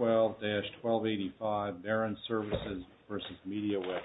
12-1285 BARON SERVICES v. MEDIA WEATHER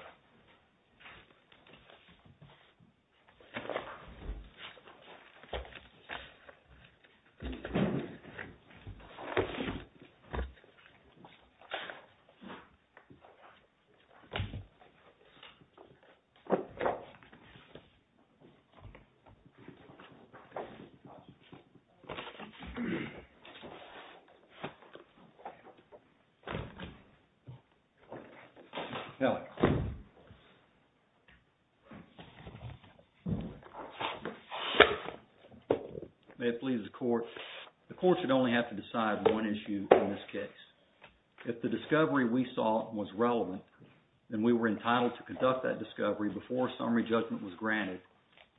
May it please the Court, the Court should only have to decide on one issue in this case. If the discovery we saw was relevant, then we were entitled to conduct that discovery before summary judgment was granted,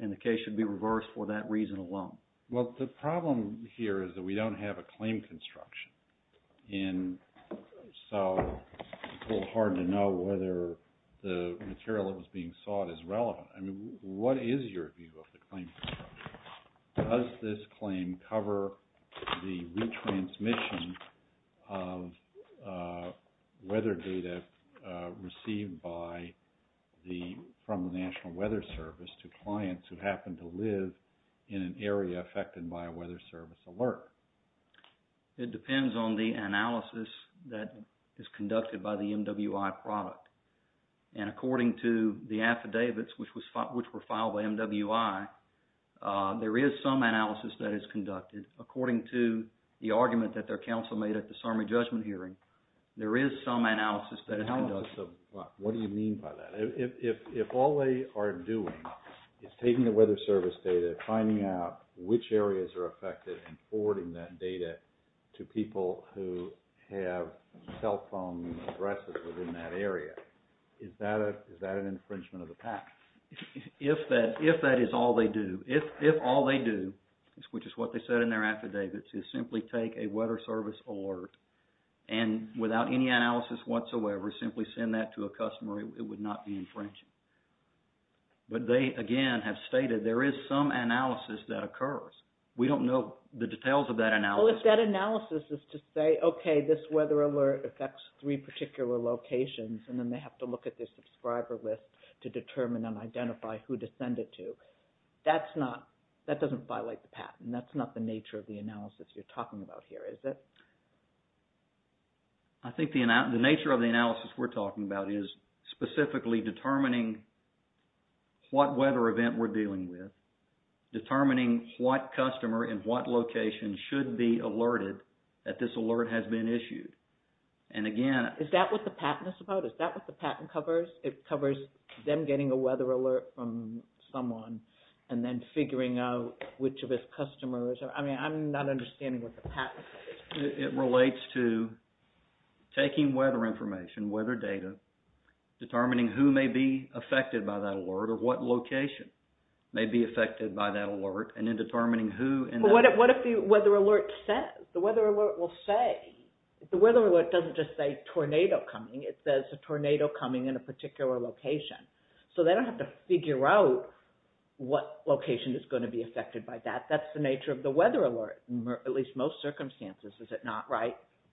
and the case should be reversed for that reason alone. Well, the problem here is that we don't have a claim construction, and so it's a little hard to know whether the material that was being sought is relevant. What is your view of the claim construction? Does this claim cover the retransmission of weather data received from the National Weather Service to clients who happen to live in an area affected by a weather service alert? It depends on the analysis that is conducted by the MWI product. And according to the affidavits which were filed by MWI, there is some analysis that is conducted. According to the argument that their counsel made at the summary judgment hearing, there is some analysis that is conducted. What do you mean by that? If all they are doing is taking the weather service data, finding out which areas are affected, and forwarding that data to people who have cell phone addresses within that area, is that an infringement of the patent? If that is all they do, if all they do, which is what they said in their affidavits, is simply take a weather service alert and without any analysis whatsoever, simply send that to a customer, it would not be infringing. But they, again, have stated there is some analysis that occurs. We don't know the details of that analysis. Okay, this weather alert affects three particular locations, and then they have to look at their subscriber list to determine and identify who to send it to. That doesn't violate the patent. That's not the nature of the analysis you're talking about here, is it? I think the nature of the analysis we're talking about is specifically determining what weather event we're dealing with, determining what customer in what location should be alerted that this alert has been issued. And again... Is that what the patent is about? Is that what the patent covers? It covers them getting a weather alert from someone and then figuring out which of its customers... I mean, I'm not understanding what the patent is. It relates to taking weather information, weather data, determining who may be affected by that alert or what location may be affected by that alert, and then determining who...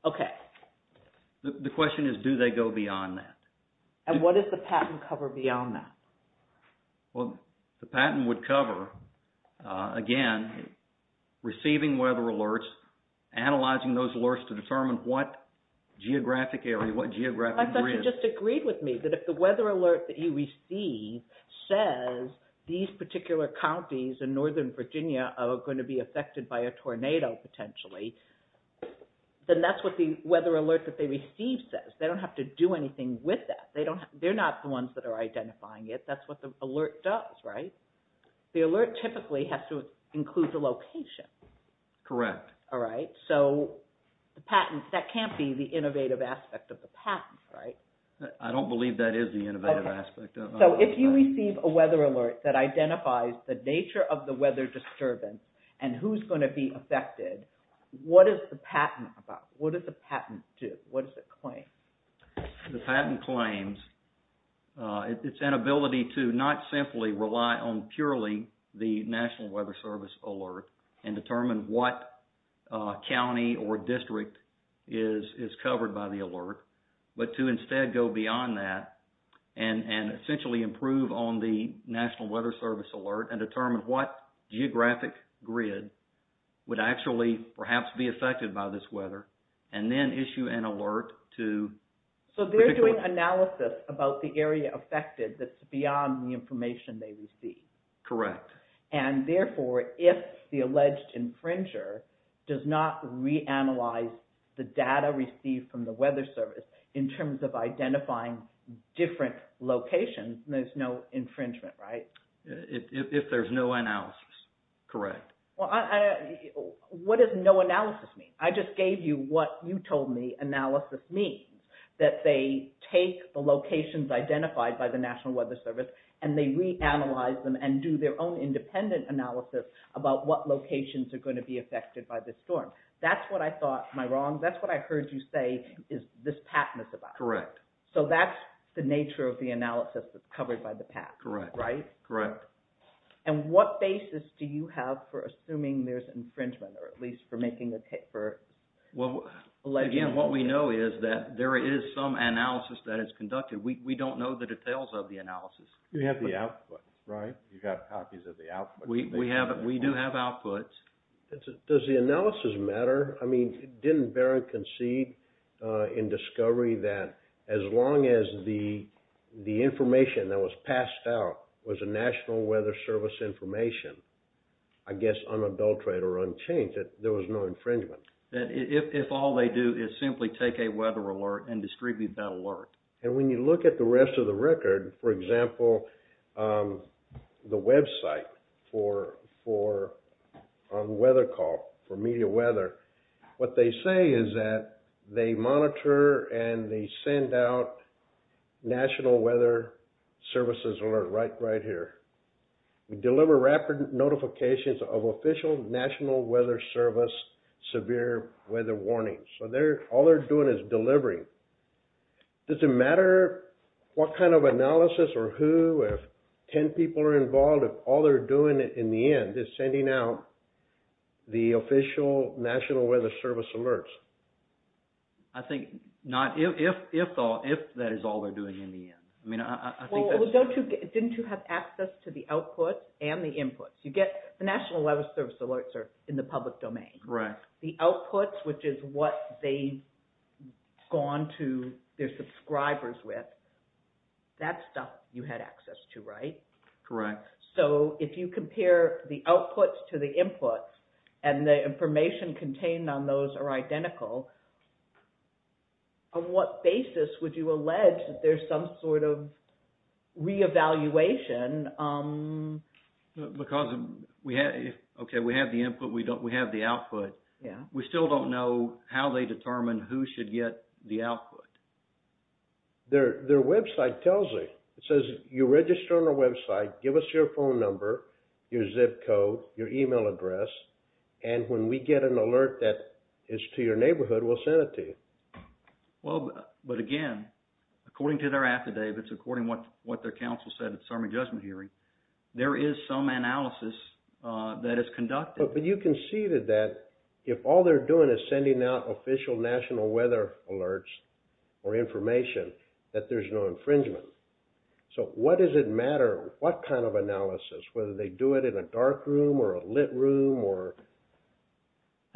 Okay. The question is, do they go beyond that? And what does the patent cover beyond that? Well, the patent would cover, again, receiving weather alerts, analyzing those alerts to determine what geographic area, what geographic grid... If these particular counties in northern Virginia are going to be affected by a tornado, potentially, then that's what the weather alert that they receive says. They don't have to do anything with that. They're not the ones that are identifying it. That's what the alert does, right? The alert typically has to include the location. Correct. All right. So the patent, that can't be the innovative aspect of the patent, right? I don't believe that is the innovative aspect of it. So if you receive a weather alert that identifies the nature of the weather disturbance and who's going to be affected, what is the patent about? What does the patent do? What does it claim? The patent claims it's an ability to not simply rely on purely the National Weather Service alert and determine what county or district is covered by the alert, but to instead go beyond that and essentially improve on the National Weather Service alert and determine what geographic grid would actually perhaps be affected by this weather, and then issue an alert to... So they're doing analysis about the area affected that's beyond the information they receive. Correct. And therefore, if the alleged infringer does not reanalyze the data received from the Weather Service in terms of identifying different locations, there's no infringement, right? If there's no analysis, correct. What does no analysis mean? I just gave you what you told me analysis means, that they take the locations identified by the National Weather Service and they reanalyze them and do their own independent analysis about what locations are going to be affected by this storm. That's what I thought, am I wrong? That's what I heard you say is this patent is about. Correct. So that's the nature of the analysis that's covered by the patent, right? Correct. And what basis do you have for assuming there's infringement, or at least for making a case for alleged infringement? Again, what we know is that there is some analysis that is conducted. We don't know the details of the analysis. You have the output, right? You've got copies of the output. We do have outputs. Does the analysis matter? I mean, didn't Barron concede in discovery that as long as the information that was passed out was a National Weather Service information, I guess unadulterated or unchanged, that there was no infringement? If all they do is simply take a weather alert and distribute that alert. And when you look at the rest of the record, for example, the website for a weather call for media weather, what they say is that they monitor and they send out National Weather Services alert right here. We deliver rapid notifications of official National Weather Service severe weather warnings. So all they're doing is delivering. Does it matter what kind of analysis or who, if 10 people are involved, if all they're doing in the end is sending out the official National Weather Service alerts? I think not, if that is all they're doing in the end. Well, didn't you have access to the output and the input? You get the National Weather Service alerts are in the public domain. The outputs, which is what they've gone to their subscribers with, that's stuff you had access to, right? Correct. So if you compare the outputs to the inputs and the information contained on those are identical, on what basis would you allege that there's some sort of re-evaluation? Because we have the input, we have the output. We still don't know how they determine who should get the output. Their website tells it. It says you register on our website, give us your phone number, your zip code, your email address, and when we get an alert that is to your neighborhood, we'll send it to you. Well, but again, according to their affidavits, according to what their counsel said at the Summer Judgment Hearing, there is some analysis that is conducted. But you conceded that if all they're doing is sending out official National Weather Alerts or information, that there's no infringement. So what does it matter what kind of analysis, whether they do it in a dark room or a lit room or...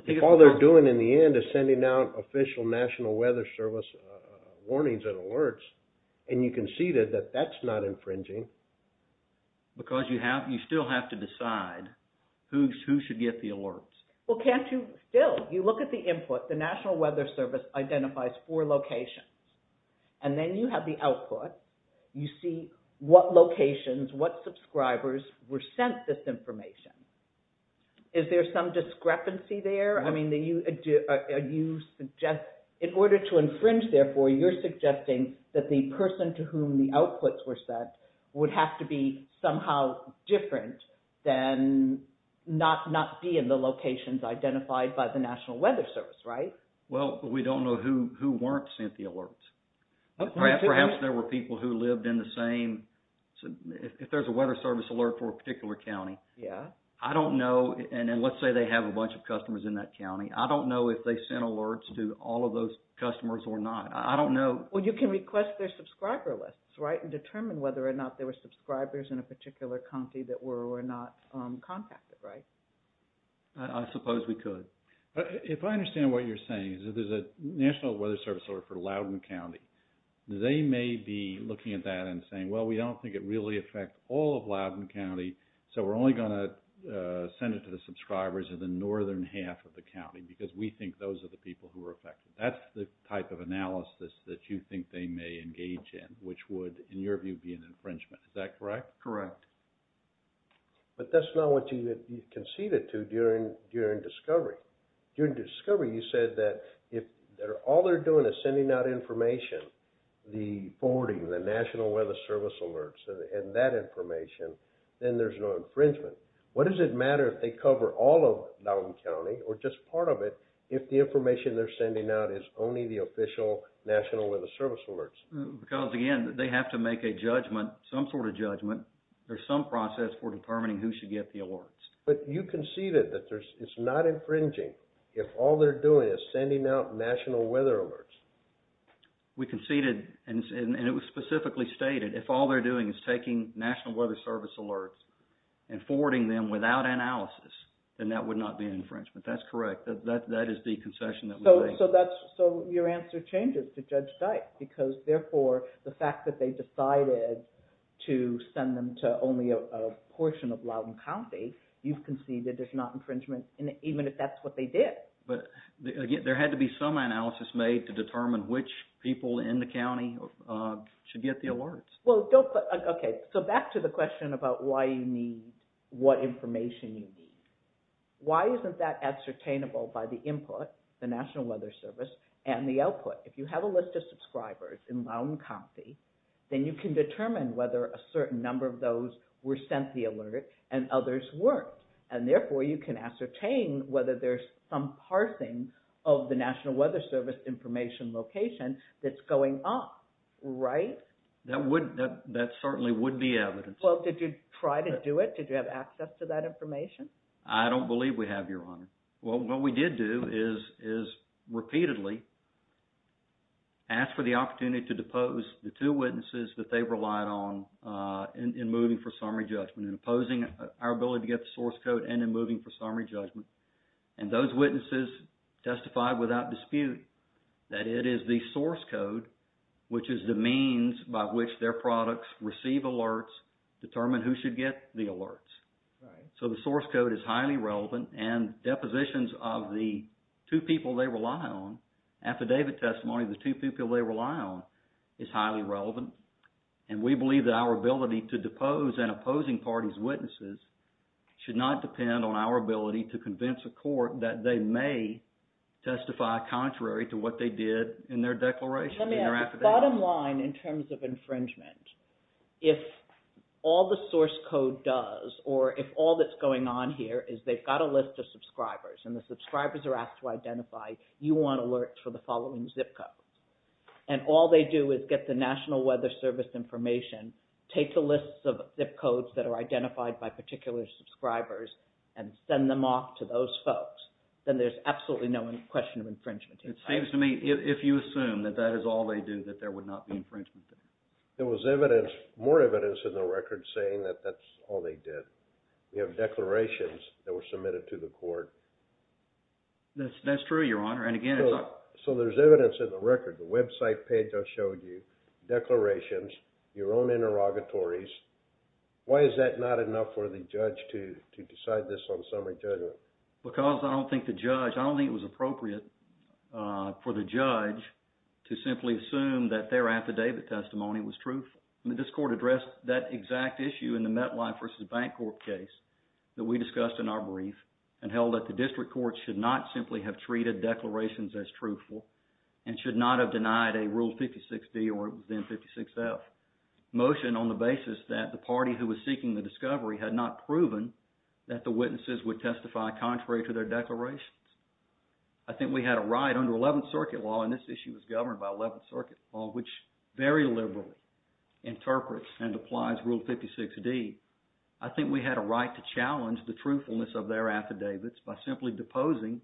If all they're doing in the end is sending out official National Weather Service warnings and alerts, and you conceded that that's not infringing... Because you still have to decide who should get the alerts. Well, can't you still? You look at the input. The National Weather Service identifies four locations. And then you have the output. You see what locations, what subscribers were sent this information. Is there some discrepancy there? In order to infringe, therefore, you're suggesting that the person to whom the outputs were sent would have to be somehow different than not be in the locations identified by the National Weather Service, right? Well, we don't know who weren't sent the alerts. Perhaps there were people who lived in the same... If there's a weather service alert for a particular county, I don't know. And let's say they have a bunch of customers in that county. I don't know if they sent alerts to all of those customers or not. I don't know. Well, you can request their subscriber lists, right, and determine whether or not there were subscribers in a particular county that were or were not contacted, right? I suppose we could. If I understand what you're saying, there's a National Weather Service alert for Loudoun County. They may be looking at that and saying, well, we don't think it really affects all of Loudoun County. So we're only going to send it to the subscribers of the northern half of the county because we think those are the people who are affected. That's the type of analysis that you think they may engage in, which would, in your view, be an infringement. Is that correct? Correct. But that's not what you conceded to during discovery. During discovery, you said that if all they're doing is sending out information, the forwarding, the National Weather Service alerts, and that information, then there's no infringement. What does it matter if they cover all of Loudoun County or just part of it if the information they're sending out is only the official National Weather Service alerts? Because, again, they have to make a judgment, some sort of judgment, or some process for determining who should get the alerts. But you conceded that it's not infringing if all they're doing is sending out National Weather Alerts. We conceded, and it was specifically stated, if all they're doing is taking National Weather Service alerts and forwarding them without analysis, then that would not be an infringement. That's correct. That is the concession that we made. So your answer changes to Judge Dyke because, therefore, the fact that they decided to send them to only a portion of Loudoun County, you've conceded it's not infringement even if that's what they did. But, again, there had to be some analysis made to determine which people in the county should get the alerts. Okay, so back to the question about why you need, what information you need. Why isn't that ascertainable by the input, the National Weather Service, and the output? If you have a list of subscribers in Loudoun County, then you can determine whether a certain number of those were sent the alert and others weren't. And, therefore, you can ascertain whether there's some parsing of the National Weather Service information location that's going on, right? That would, that certainly would be evidence. Well, did you try to do it? Did you have access to that information? I don't believe we have, Your Honor. Well, what we did do is repeatedly ask for the opportunity to depose the two witnesses that they relied on in moving for summary judgment and opposing our ability to get the source code and in moving for summary judgment. And those witnesses testified without dispute that it is the source code, which is the means by which their products receive alerts, determine who should get the alerts. So the source code is highly relevant and depositions of the two people they rely on, affidavit testimony of the two people they rely on, is highly relevant. And we believe that our ability to depose and opposing parties' witnesses should not depend on our ability to convince a court that they may testify contrary to what they did in their declaration, in their affidavit. The bottom line in terms of infringement, if all the source code does or if all that's going on here is they've got a list of subscribers and the subscribers are asked to identify, you want alerts for the following zip codes. And all they do is get the National Weather Service information, take the lists of zip codes that are identified by particular subscribers and send them off to those folks. Then there's absolutely no question of infringement. It seems to me if you assume that that is all they do, that there would not be infringement. There was evidence, more evidence in the record saying that that's all they did. You have declarations that were submitted to the court. That's true, Your Honor. And again, it's not... So there's evidence in the record, the website page I showed you, declarations, your own interrogatories. Why is that not enough for the judge to decide this on summary judgment? Because I don't think the judge, I don't think it was appropriate for the judge to simply assume that their affidavit testimony was truthful. This court addressed that exact issue in the MetLife v. Bank Corp case that we discussed in our brief and held that the district court should not simply have treated declarations as truthful and should not have denied a Rule 56D or then 56F motion on the basis that the party who was seeking the discovery had not proven that the witnesses would testify contrary to their declarations. I think we had a right under Eleventh Circuit Law, and this issue was governed by Eleventh Circuit Law, which very liberally interprets and applies Rule 56D. I think we had a right to challenge the truthfulness of their affidavits by simply deposing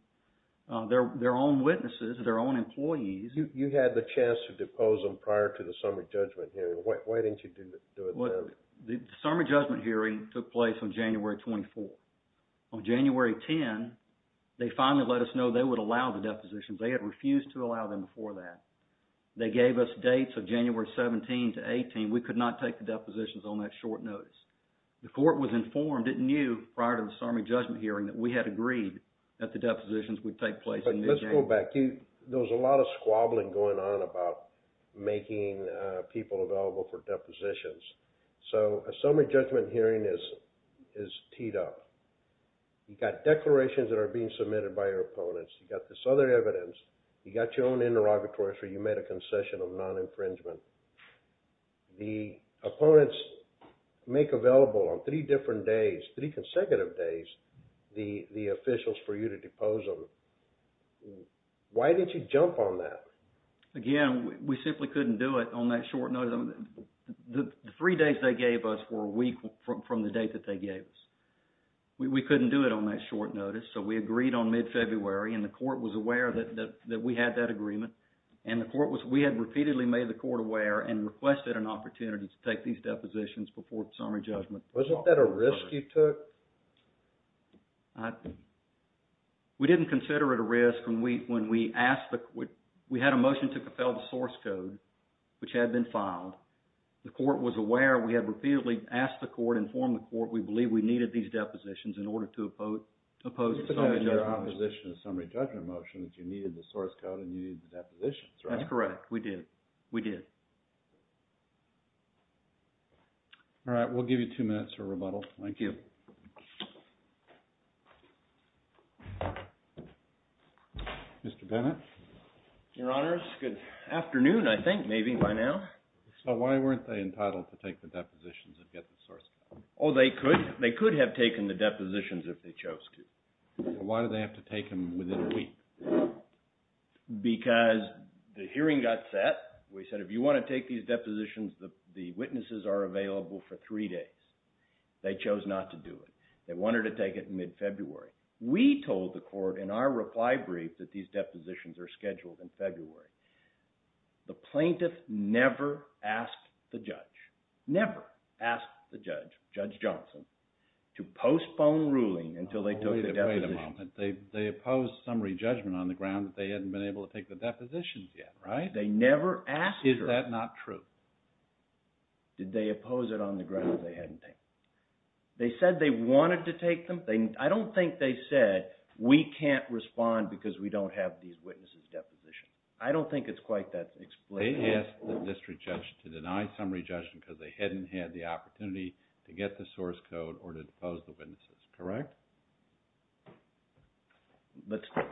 their own witnesses, their own employees. You had the chance to depose them prior to the summary judgment hearing. Why didn't you do it then? The summary judgment hearing took place on January 24. On January 10, they finally let us know they would allow the depositions. They had refused to allow them before that. They gave us dates of January 17 to 18. We could not take the depositions on that short notice. The court was informed, it knew, prior to the summary judgment hearing that we had agreed that the depositions would take place in mid-January. But let's go back. There was a lot of squabbling going on about making people available for depositions. So a summary judgment hearing is teed up. You got declarations that are being submitted by your opponents. You got this other evidence. You got your own interrogatories where you made a concession of non-infringement. The opponents make available on three different days, three consecutive days, the officials for you to depose them. Why didn't you jump on that? Again, we simply couldn't do it on that short notice. The three days they gave us were a week from the date that they gave us. We couldn't do it on that short notice, so we agreed on mid-February and the court was aware that we had that agreement. We had repeatedly made the court aware and requested an opportunity to take these depositions before the summary judgment hearing. We didn't consider it a risk when we had a motion to compel the source code, which had been filed. The court was aware. We had repeatedly asked the court, informed the court we believe we needed these depositions in order to oppose the summary judgment motion. You said that in your opposition to the summary judgment motion that you needed the source code and you needed the depositions, right? That's correct. We did. We did. All right. We'll give you two minutes for rebuttal. Thank you. Mr. Bennett. Your Honors, good afternoon, I think, maybe by now. So why weren't they entitled to take the depositions and get the source code? Oh, they could. They could have taken the depositions if they chose to. Why did they have to take them within a week? Because the hearing got set. We said if you want to take these depositions, the witnesses are available for three days. They chose not to do it. They wanted to take it in mid-February. We told the court in our reply brief that these depositions are scheduled in February. The plaintiff never asked the judge, never asked the judge, Judge Johnson, to postpone ruling until they took the depositions. They opposed summary judgment on the ground that they hadn't been able to take the depositions yet, right? They never asked her. Is that not true? Did they oppose it on the ground that they hadn't taken them? They said they wanted to take them. I don't think they said we can't respond because we don't have these witnesses' depositions. I don't think it's quite that explicit. They asked the district judge to deny summary judgment because they hadn't had the opportunity to get the source code or to depose the witnesses, correct?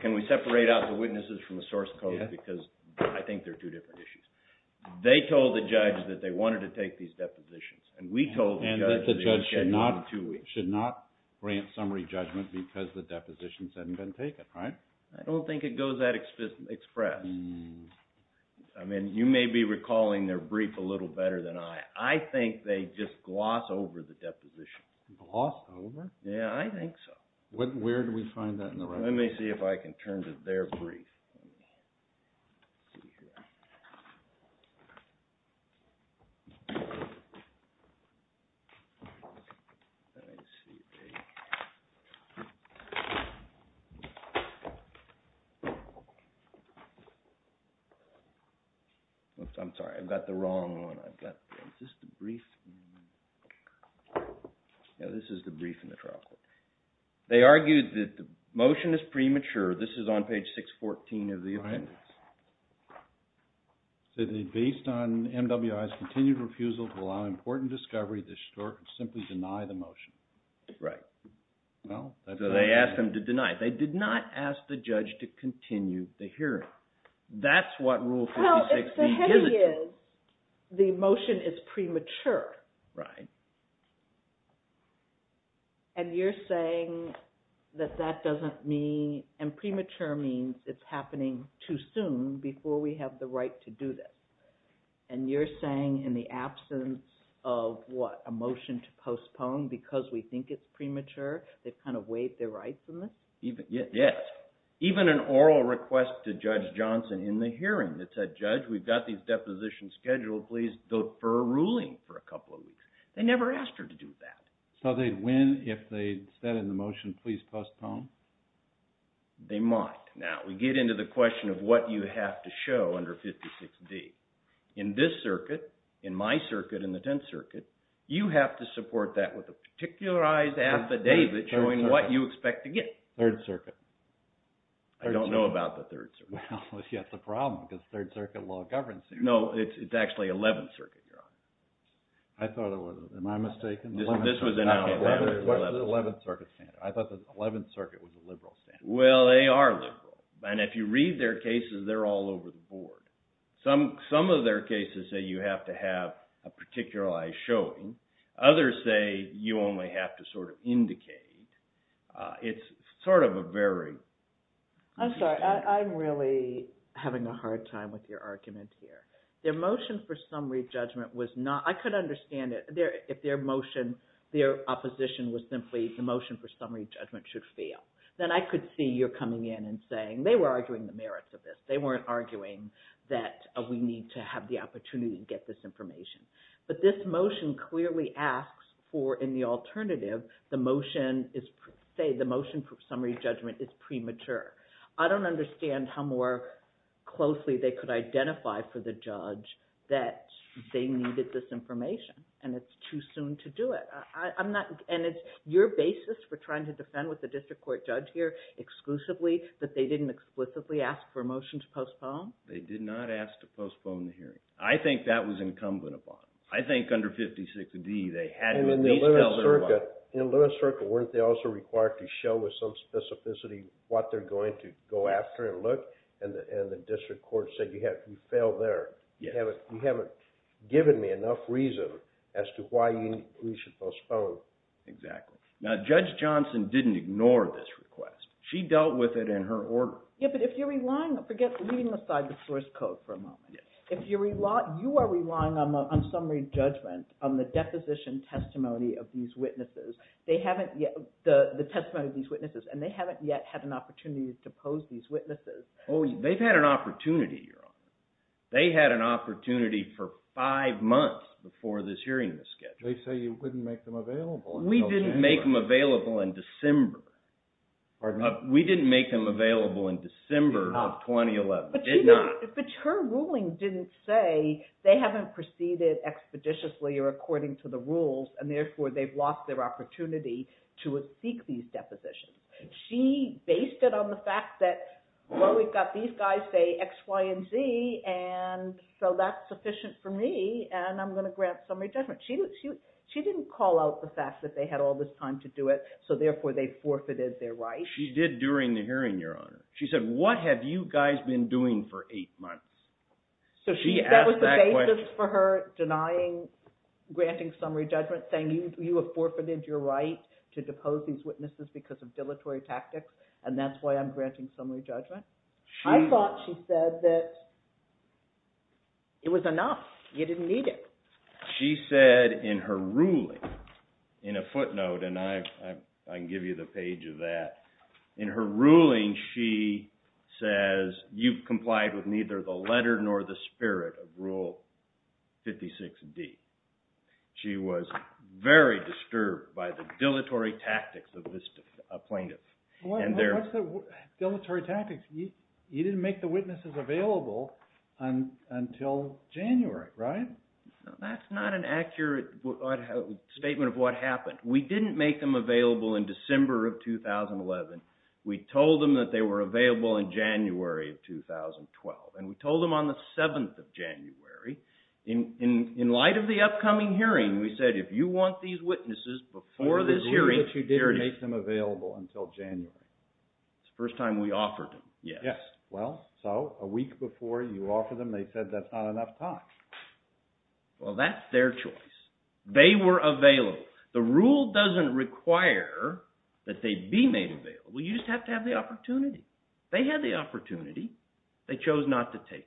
Can we separate out the witnesses from the source code because I think they're two different issues. They told the judge that they wanted to take these depositions, and we told the judge that they were scheduled for two weeks. And that the judge should not grant summary judgment because the depositions hadn't been taken, right? I don't think it goes that express. I mean, you may be recalling their brief a little better than I. I think they just gloss over the deposition. Gloss over? Yeah, I think so. Where do we find that in the record? Let me see if I can turn to their brief. I'm sorry, I've got the wrong one. Is this the brief? Yeah, this is the brief in the trial court. They argued that the motion is premature. This is on page 614 of the appendix. So they based on MWI's continued refusal to allow important discovery to simply deny the motion. Right. So they asked them to deny it. They did not ask the judge to continue the hearing. That's what Rule 56 means. Well, the thing is, the motion is premature. Right. And you're saying that that doesn't mean – and premature means it's happening too soon before we have the right to do this. And you're saying in the absence of, what, a motion to postpone because we think it's premature, they've kind of waived their rights on this? Yes. Even an oral request to Judge Johnson in the hearing that said, Judge, we've got these depositions scheduled, please, for a ruling for a couple of weeks. They never asked her to do that. So they'd win if they said in the motion, please postpone? They might. Now, we get into the question of what you have to show under 56D. In this circuit, in my circuit, in the Tenth Circuit, you have to support that with a particularized affidavit showing what you expect to get. Third Circuit. I don't know about the Third Circuit. Well, that's a problem because Third Circuit law governs it. No, it's actually Eleventh Circuit, Your Honor. I thought it was. Am I mistaken? This was in Eleventh Circuit. I thought the Eleventh Circuit was a liberal standard. Well, they are liberal. And if you read their cases, they're all over the board. Some of their cases say you have to have a particularized showing. Others say you only have to sort of indicate. It's sort of a very... I'm sorry. I'm really having a hard time with your argument here. Their motion for summary judgment was not... I could understand it. If their motion, their opposition was simply the motion for summary judgment should fail. Then I could see you're coming in and saying... They were arguing the merits of this. They weren't arguing that we need to have the opportunity to get this information. But this motion clearly asks for, in the alternative, the motion is... Say the motion for summary judgment is premature. I don't understand how more closely they could identify for the judge that they needed this information. And it's too soon to do it. I'm not... And it's your basis for trying to defend with the district court judge here exclusively that they didn't explicitly ask for a motion to postpone? They did not ask to postpone the hearing. I think that was incumbent upon them. I think under 56D, they had to at least tell their why. And in Little Circle, weren't they also required to show with some specificity what they're going to go after and look? And the district court said you failed there. You haven't given me enough reason as to why we should postpone. Exactly. Now, Judge Johnson didn't ignore this request. She dealt with it in her order. Yeah, but if you're relying... Forget leaving aside the source code for a moment. Yes. If you're relying... You are relying on summary judgment on the deposition testimony of these witnesses. They haven't yet... The testimony of these witnesses. And they haven't yet had an opportunity to pose these witnesses. Oh, they've had an opportunity, Your Honor. They had an opportunity for five months before this hearing was scheduled. They say you wouldn't make them available. We didn't make them available in December. Pardon me? We didn't make them available in December of 2011. Did not. But her ruling didn't say they haven't proceeded expeditiously or according to the rules, and therefore they've lost their opportunity to seek these depositions. She based it on the fact that, well, we've got these guys say X, Y, and Z, and so that's sufficient for me, and I'm going to grant summary judgment. She didn't call out the fact that they had all this time to do it, so therefore they forfeited their right. She did during the hearing, Your Honor. She said, what have you guys been doing for eight months? She asked that question. So that was the basis for her denying granting summary judgment, saying you have forfeited your right to depose these witnesses because of dilatory tactics, and that's why I'm granting summary judgment? I thought she said that it was enough. You didn't need it. She said in her ruling, in a footnote, and I can give you the page of that, in her ruling she says you've complied with neither the letter nor the spirit of Rule 56D. She was very disturbed by the dilatory tactics of this plaintiff. What's the dilatory tactics? You didn't make the witnesses available until January, right? That's not an accurate statement of what happened. We didn't make them available in December of 2011. We told them that they were available in January of 2012, and we told them on the 7th of January. In light of the upcoming hearing, we said if you want these witnesses before this hearing… Yes. Well, so a week before you offered them, they said that's not enough time. Well, that's their choice. They were available. The rule doesn't require that they be made available. You just have to have the opportunity. They had the opportunity. They chose not to take it.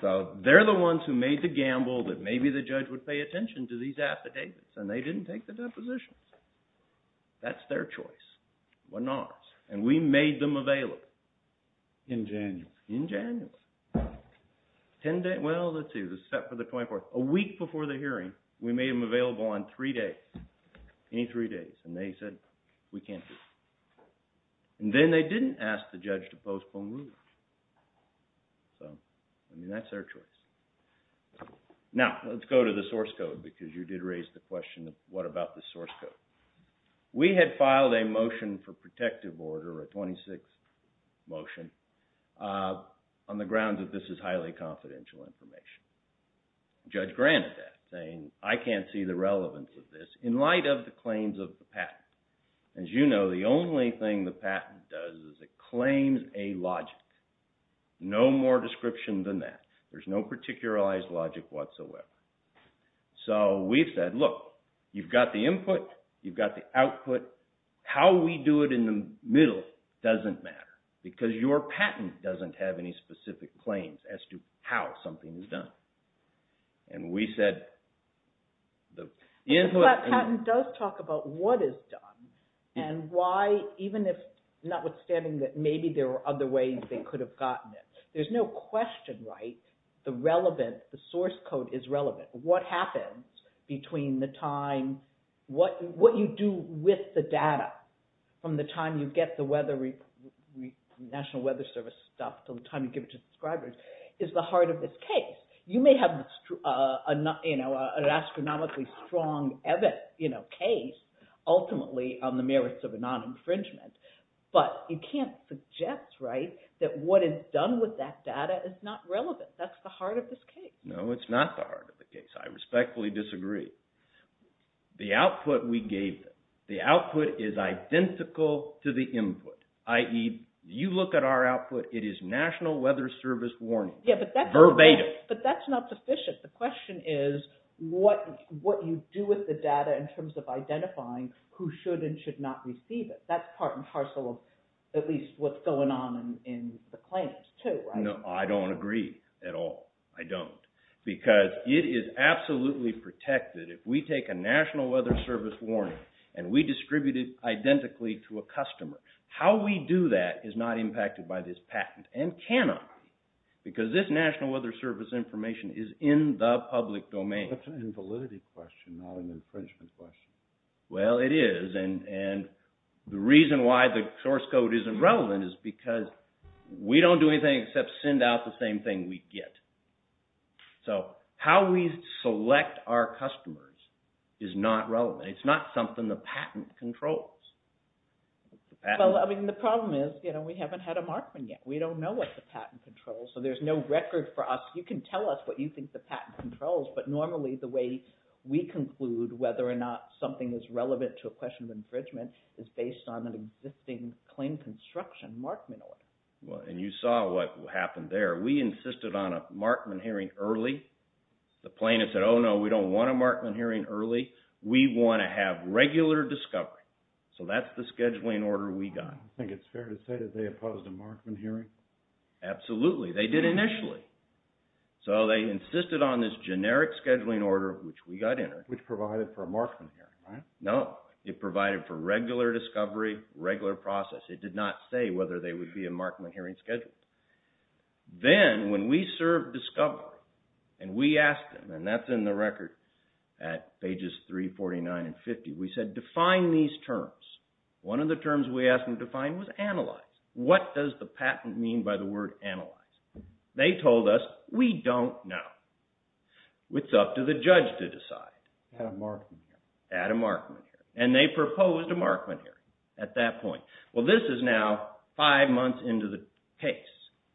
So they're the ones who made the gamble that maybe the judge would pay attention to these affidavits, and they didn't take the depositions. That's their choice, wasn't ours. And we made them available. In January. In January. Well, let's see. This is set for the 24th. A week before the hearing, we made them available on three days. Any three days. And they said we can't do it. And then they didn't ask the judge to postpone ruling. So, I mean, that's their choice. Now, let's go to the source code, because you did raise the question of what about the source code. We had filed a motion for protective order, a 26 motion, on the grounds that this is highly confidential information. Judge granted that, saying I can't see the relevance of this in light of the claims of the patent. As you know, the only thing the patent does is it claims a logic. No more description than that. There's no particularized logic whatsoever. So, we said, look, you've got the input. You've got the output. How we do it in the middle doesn't matter. Because your patent doesn't have any specific claims as to how something is done. And we said... The patent does talk about what is done. And why, even if, notwithstanding that maybe there are other ways they could have gotten it. There's no question, right? The source code is relevant. What happens between the time... What you do with the data from the time you get the National Weather Service stuff to the time you give it to subscribers is the heart of this case. You may have an astronomically strong case, ultimately, on the merits of a non-infringement. But you can't suggest that what is done with that data is not relevant. That's the heart of this case. No, it's not the heart of the case. I respectfully disagree. The output we gave them. The output is identical to the input. I.e., you look at our output. It is National Weather Service warning. Verbatim. But that's not sufficient. The question is what you do with the data in terms of identifying who should and should not receive it. That's part and parcel of at least what's going on in the claims, too, right? No, I don't agree at all. I don't. Because it is absolutely protected if we take a National Weather Service warning and we distribute it identically to a customer. How we do that is not impacted by this patent and cannot. Because this National Weather Service information is in the public domain. That's an invalidity question, not an infringement question. Well, it is. And the reason why the source code isn't relevant is because we don't do anything except send out the same thing we get. So how we select our customers is not relevant. It's not something the patent controls. Well, I mean, the problem is we haven't had a Markman yet. We don't know what the patent controls, so there's no record for us. You can tell us what you think the patent controls. But normally the way we conclude whether or not something is relevant to a question of infringement is based on an existing claim construction Markman order. Well, and you saw what happened there. We insisted on a Markman hearing early. The plaintiff said, oh, no, we don't want a Markman hearing early. We want to have regular discovery. So that's the scheduling order we got. I think it's fair to say that they opposed a Markman hearing. Absolutely. They did initially. So they insisted on this generic scheduling order, which we got in. Which provided for a Markman hearing, right? No. It provided for regular discovery, regular process. It did not say whether they would be a Markman hearing scheduled. Then when we served discovery and we asked them, and that's in the record at pages 349 and 50, we said define these terms. One of the terms we asked them to define was analyze. What does the patent mean by the word analyze? They told us, we don't know. It's up to the judge to decide. Add a Markman hearing. Add a Markman hearing. And they proposed a Markman hearing at that point. Well, this is now five months into the case.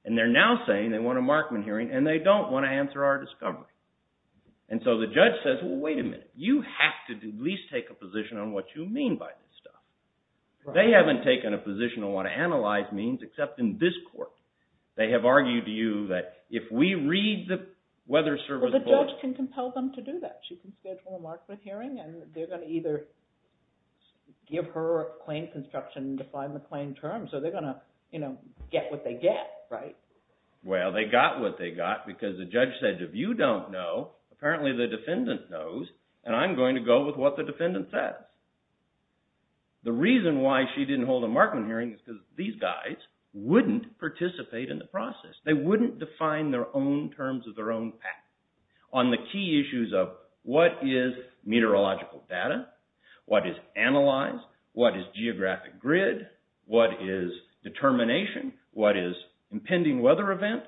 And they're now saying they want a Markman hearing and they don't want to answer our discovery. And so the judge says, well, wait a minute. You have to at least take a position on what you mean by this stuff. They haven't taken a position on what analyze means except in this court. They have argued to you that if we read the weather service board. Well, the judge can compel them to do that. She can schedule a Markman hearing and they're going to either give her a claim construction and define the claim term. So they're going to get what they get, right? Well, they got what they got because the judge said if you don't know, apparently the defendant knows, and I'm going to go with what the defendant says. The reason why she didn't hold a Markman hearing is because these guys wouldn't participate in the process. They wouldn't define their own terms of their own path. On the key issues of what is meteorological data? What is analyze? What is geographic grid? What is determination? What is impending weather event?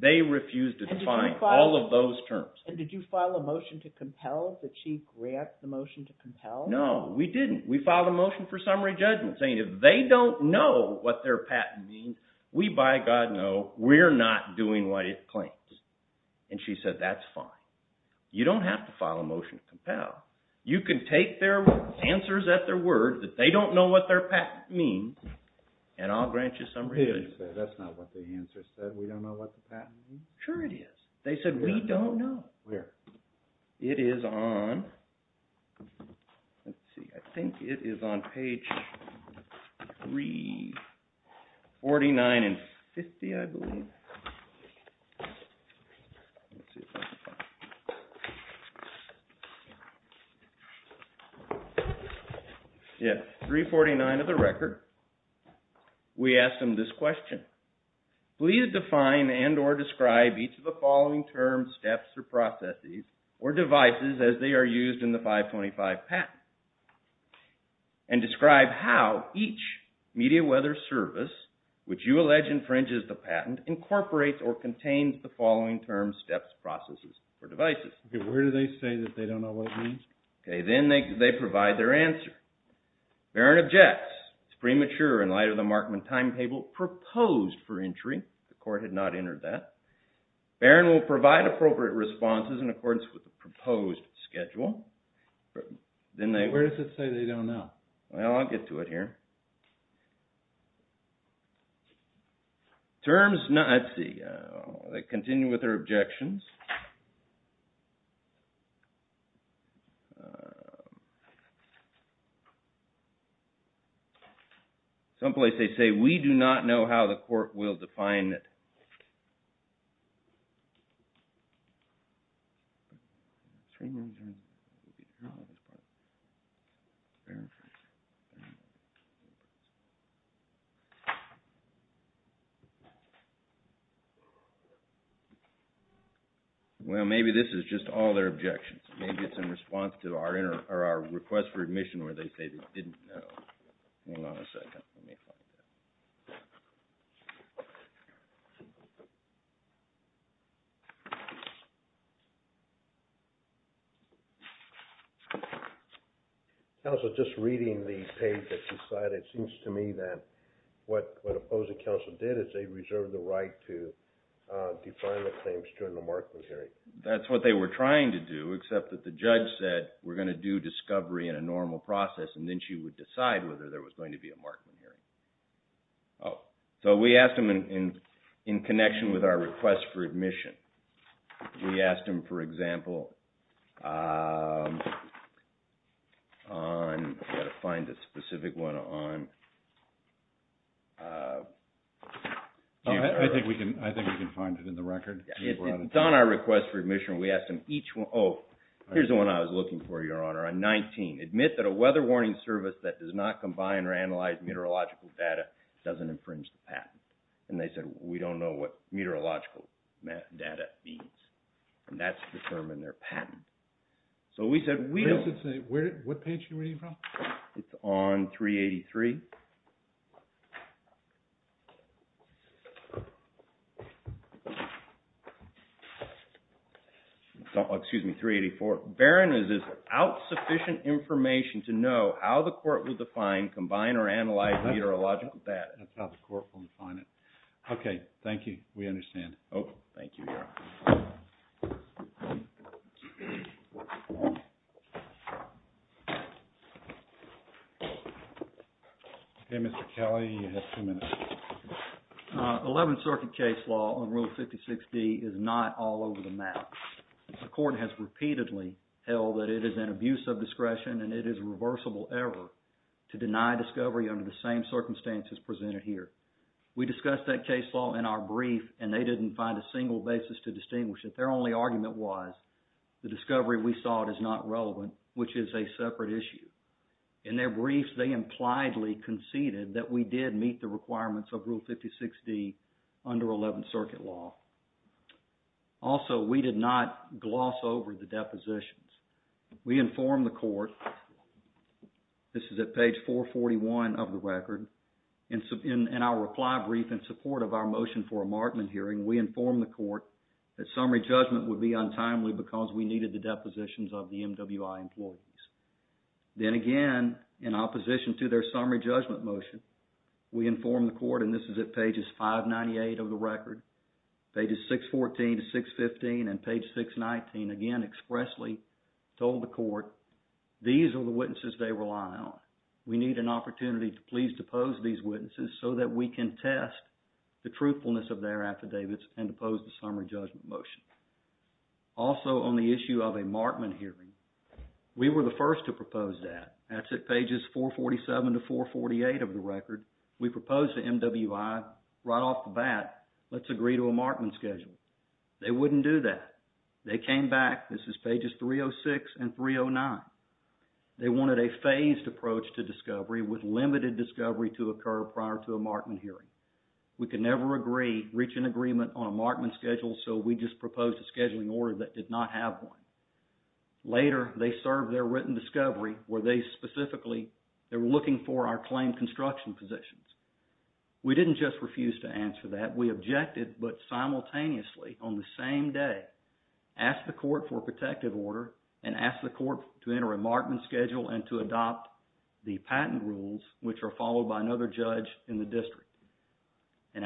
They refused to define all of those terms. And did you file a motion to compel that she grant the motion to compel? No, we didn't. We filed a motion for summary judgment saying if they don't know what their patent means, we by God know we're not doing what it claims. And she said that's fine. You don't have to file a motion to compel. You can take their answers at their word that they don't know what their patent means and I'll grant you summary judgment. That's not what the answer said. We don't know what the patent means. Sure it is. They said we don't know. Where? It is on, let's see, I think it is on page 349 and 50 I believe. Yeah, 349 of the record. We asked them this question. Please define and or describe each of the following terms, steps, or processes or devices as they are used in the 525 patent. And describe how each media weather service which you allege infringes the patent incorporates or contains the following terms, steps, processes, or devices. Okay, where do they say that they don't know what it means? Okay, then they provide their answer. Barron objects. It's premature in light of the Markman timetable proposed for entry. The court had not entered that. Barron will provide appropriate responses in accordance with the proposed schedule. Where does it say they don't know? Well, I'll get to it here. Terms, let's see, they continue with their objections. Some place they say we do not know how the court will define it. Well, maybe this is just all their objections. Maybe it's in response to our request for admission where they say they didn't know. Hang on a second. Counsel, just reading the page that you cited, it seems to me that what opposing counsel did is they reserved the right to define the claims during the Markman hearing. That's what they were trying to do, except that the judge said we're going to do discovery in a normal process, and then she would decide whether there was going to be a Markman hearing. Oh, so we asked them in connection with our request for admission. We asked them, for example, on, I've got to find a specific one on. I think we can find it in the record. It's on our request for admission. We asked them each one. Oh, here's the one I was looking for, Your Honor, on 19. Admit that a weather warning service that does not combine or analyze meteorological data doesn't infringe the patent. And they said we don't know what meteorological data means, and that's to determine their patent. So we said we don't. What page are you reading from? It's on 383. Excuse me, 384. Barron is without sufficient information to know how the court would define, combine, or analyze meteorological data. That's how the court would define it. Okay, thank you. We understand. Oh, thank you, Your Honor. Okay, Mr. Kelly, you have two minutes. 11th Circuit case law on Rule 56D is not all over the map. The court has repeatedly held that it is an abuse of discretion and it is a reversible error to deny discovery under the same circumstances presented here. We discussed that case law in our brief, and they didn't find a single basis to distinguish it. Their only argument was the discovery we sought is not relevant, which is a separate issue. In their briefs, they impliedly conceded that we did meet the requirements of Rule 56D under 11th Circuit law. Also, we did not gloss over the depositions. We informed the court, this is at page 441 of the record, in our reply brief in support of our motion for a markman hearing, we informed the court that summary judgment would be untimely because we needed the depositions of the MWI employees. Then again, in opposition to their summary judgment motion, we informed the court, and this is at pages 598 of the record, pages 614 to 615, and page 619, again expressly told the court, these are the witnesses they rely on. We need an opportunity to please depose these witnesses so that we can test the truthfulness of their affidavits and depose the summary judgment motion. Also, on the issue of a markman hearing, we were the first to propose that. That's at pages 447 to 448 of the record. We proposed to MWI right off the bat, let's agree to a markman schedule. They wouldn't do that. They came back, this is pages 306 and 309. They wanted a phased approach to discovery with limited discovery to occur prior to a markman hearing. We could never agree, reach an agreement on a markman schedule, so we just proposed a scheduling order that did not have one. Later, they served their written discovery where they specifically, they were looking for our claimed construction positions. We didn't just refuse to answer that. We objected, but simultaneously, on the same day, asked the court for a protective order and asked the court to enter a markman schedule and to adopt the patent rules, which are followed by another judge in the district.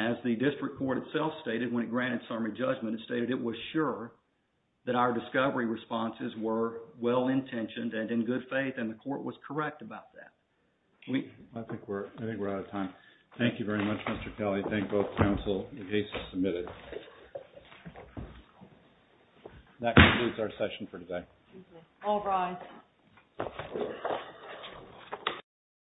As the district court itself stated when it granted summary judgment, it stated it was sure that our discovery responses were well-intentioned and in good faith, and the court was correct about that. I think we're out of time. Thank you very much, Mr. Kelly. Thank both counsel. The case is submitted. That concludes our session for today. All rise.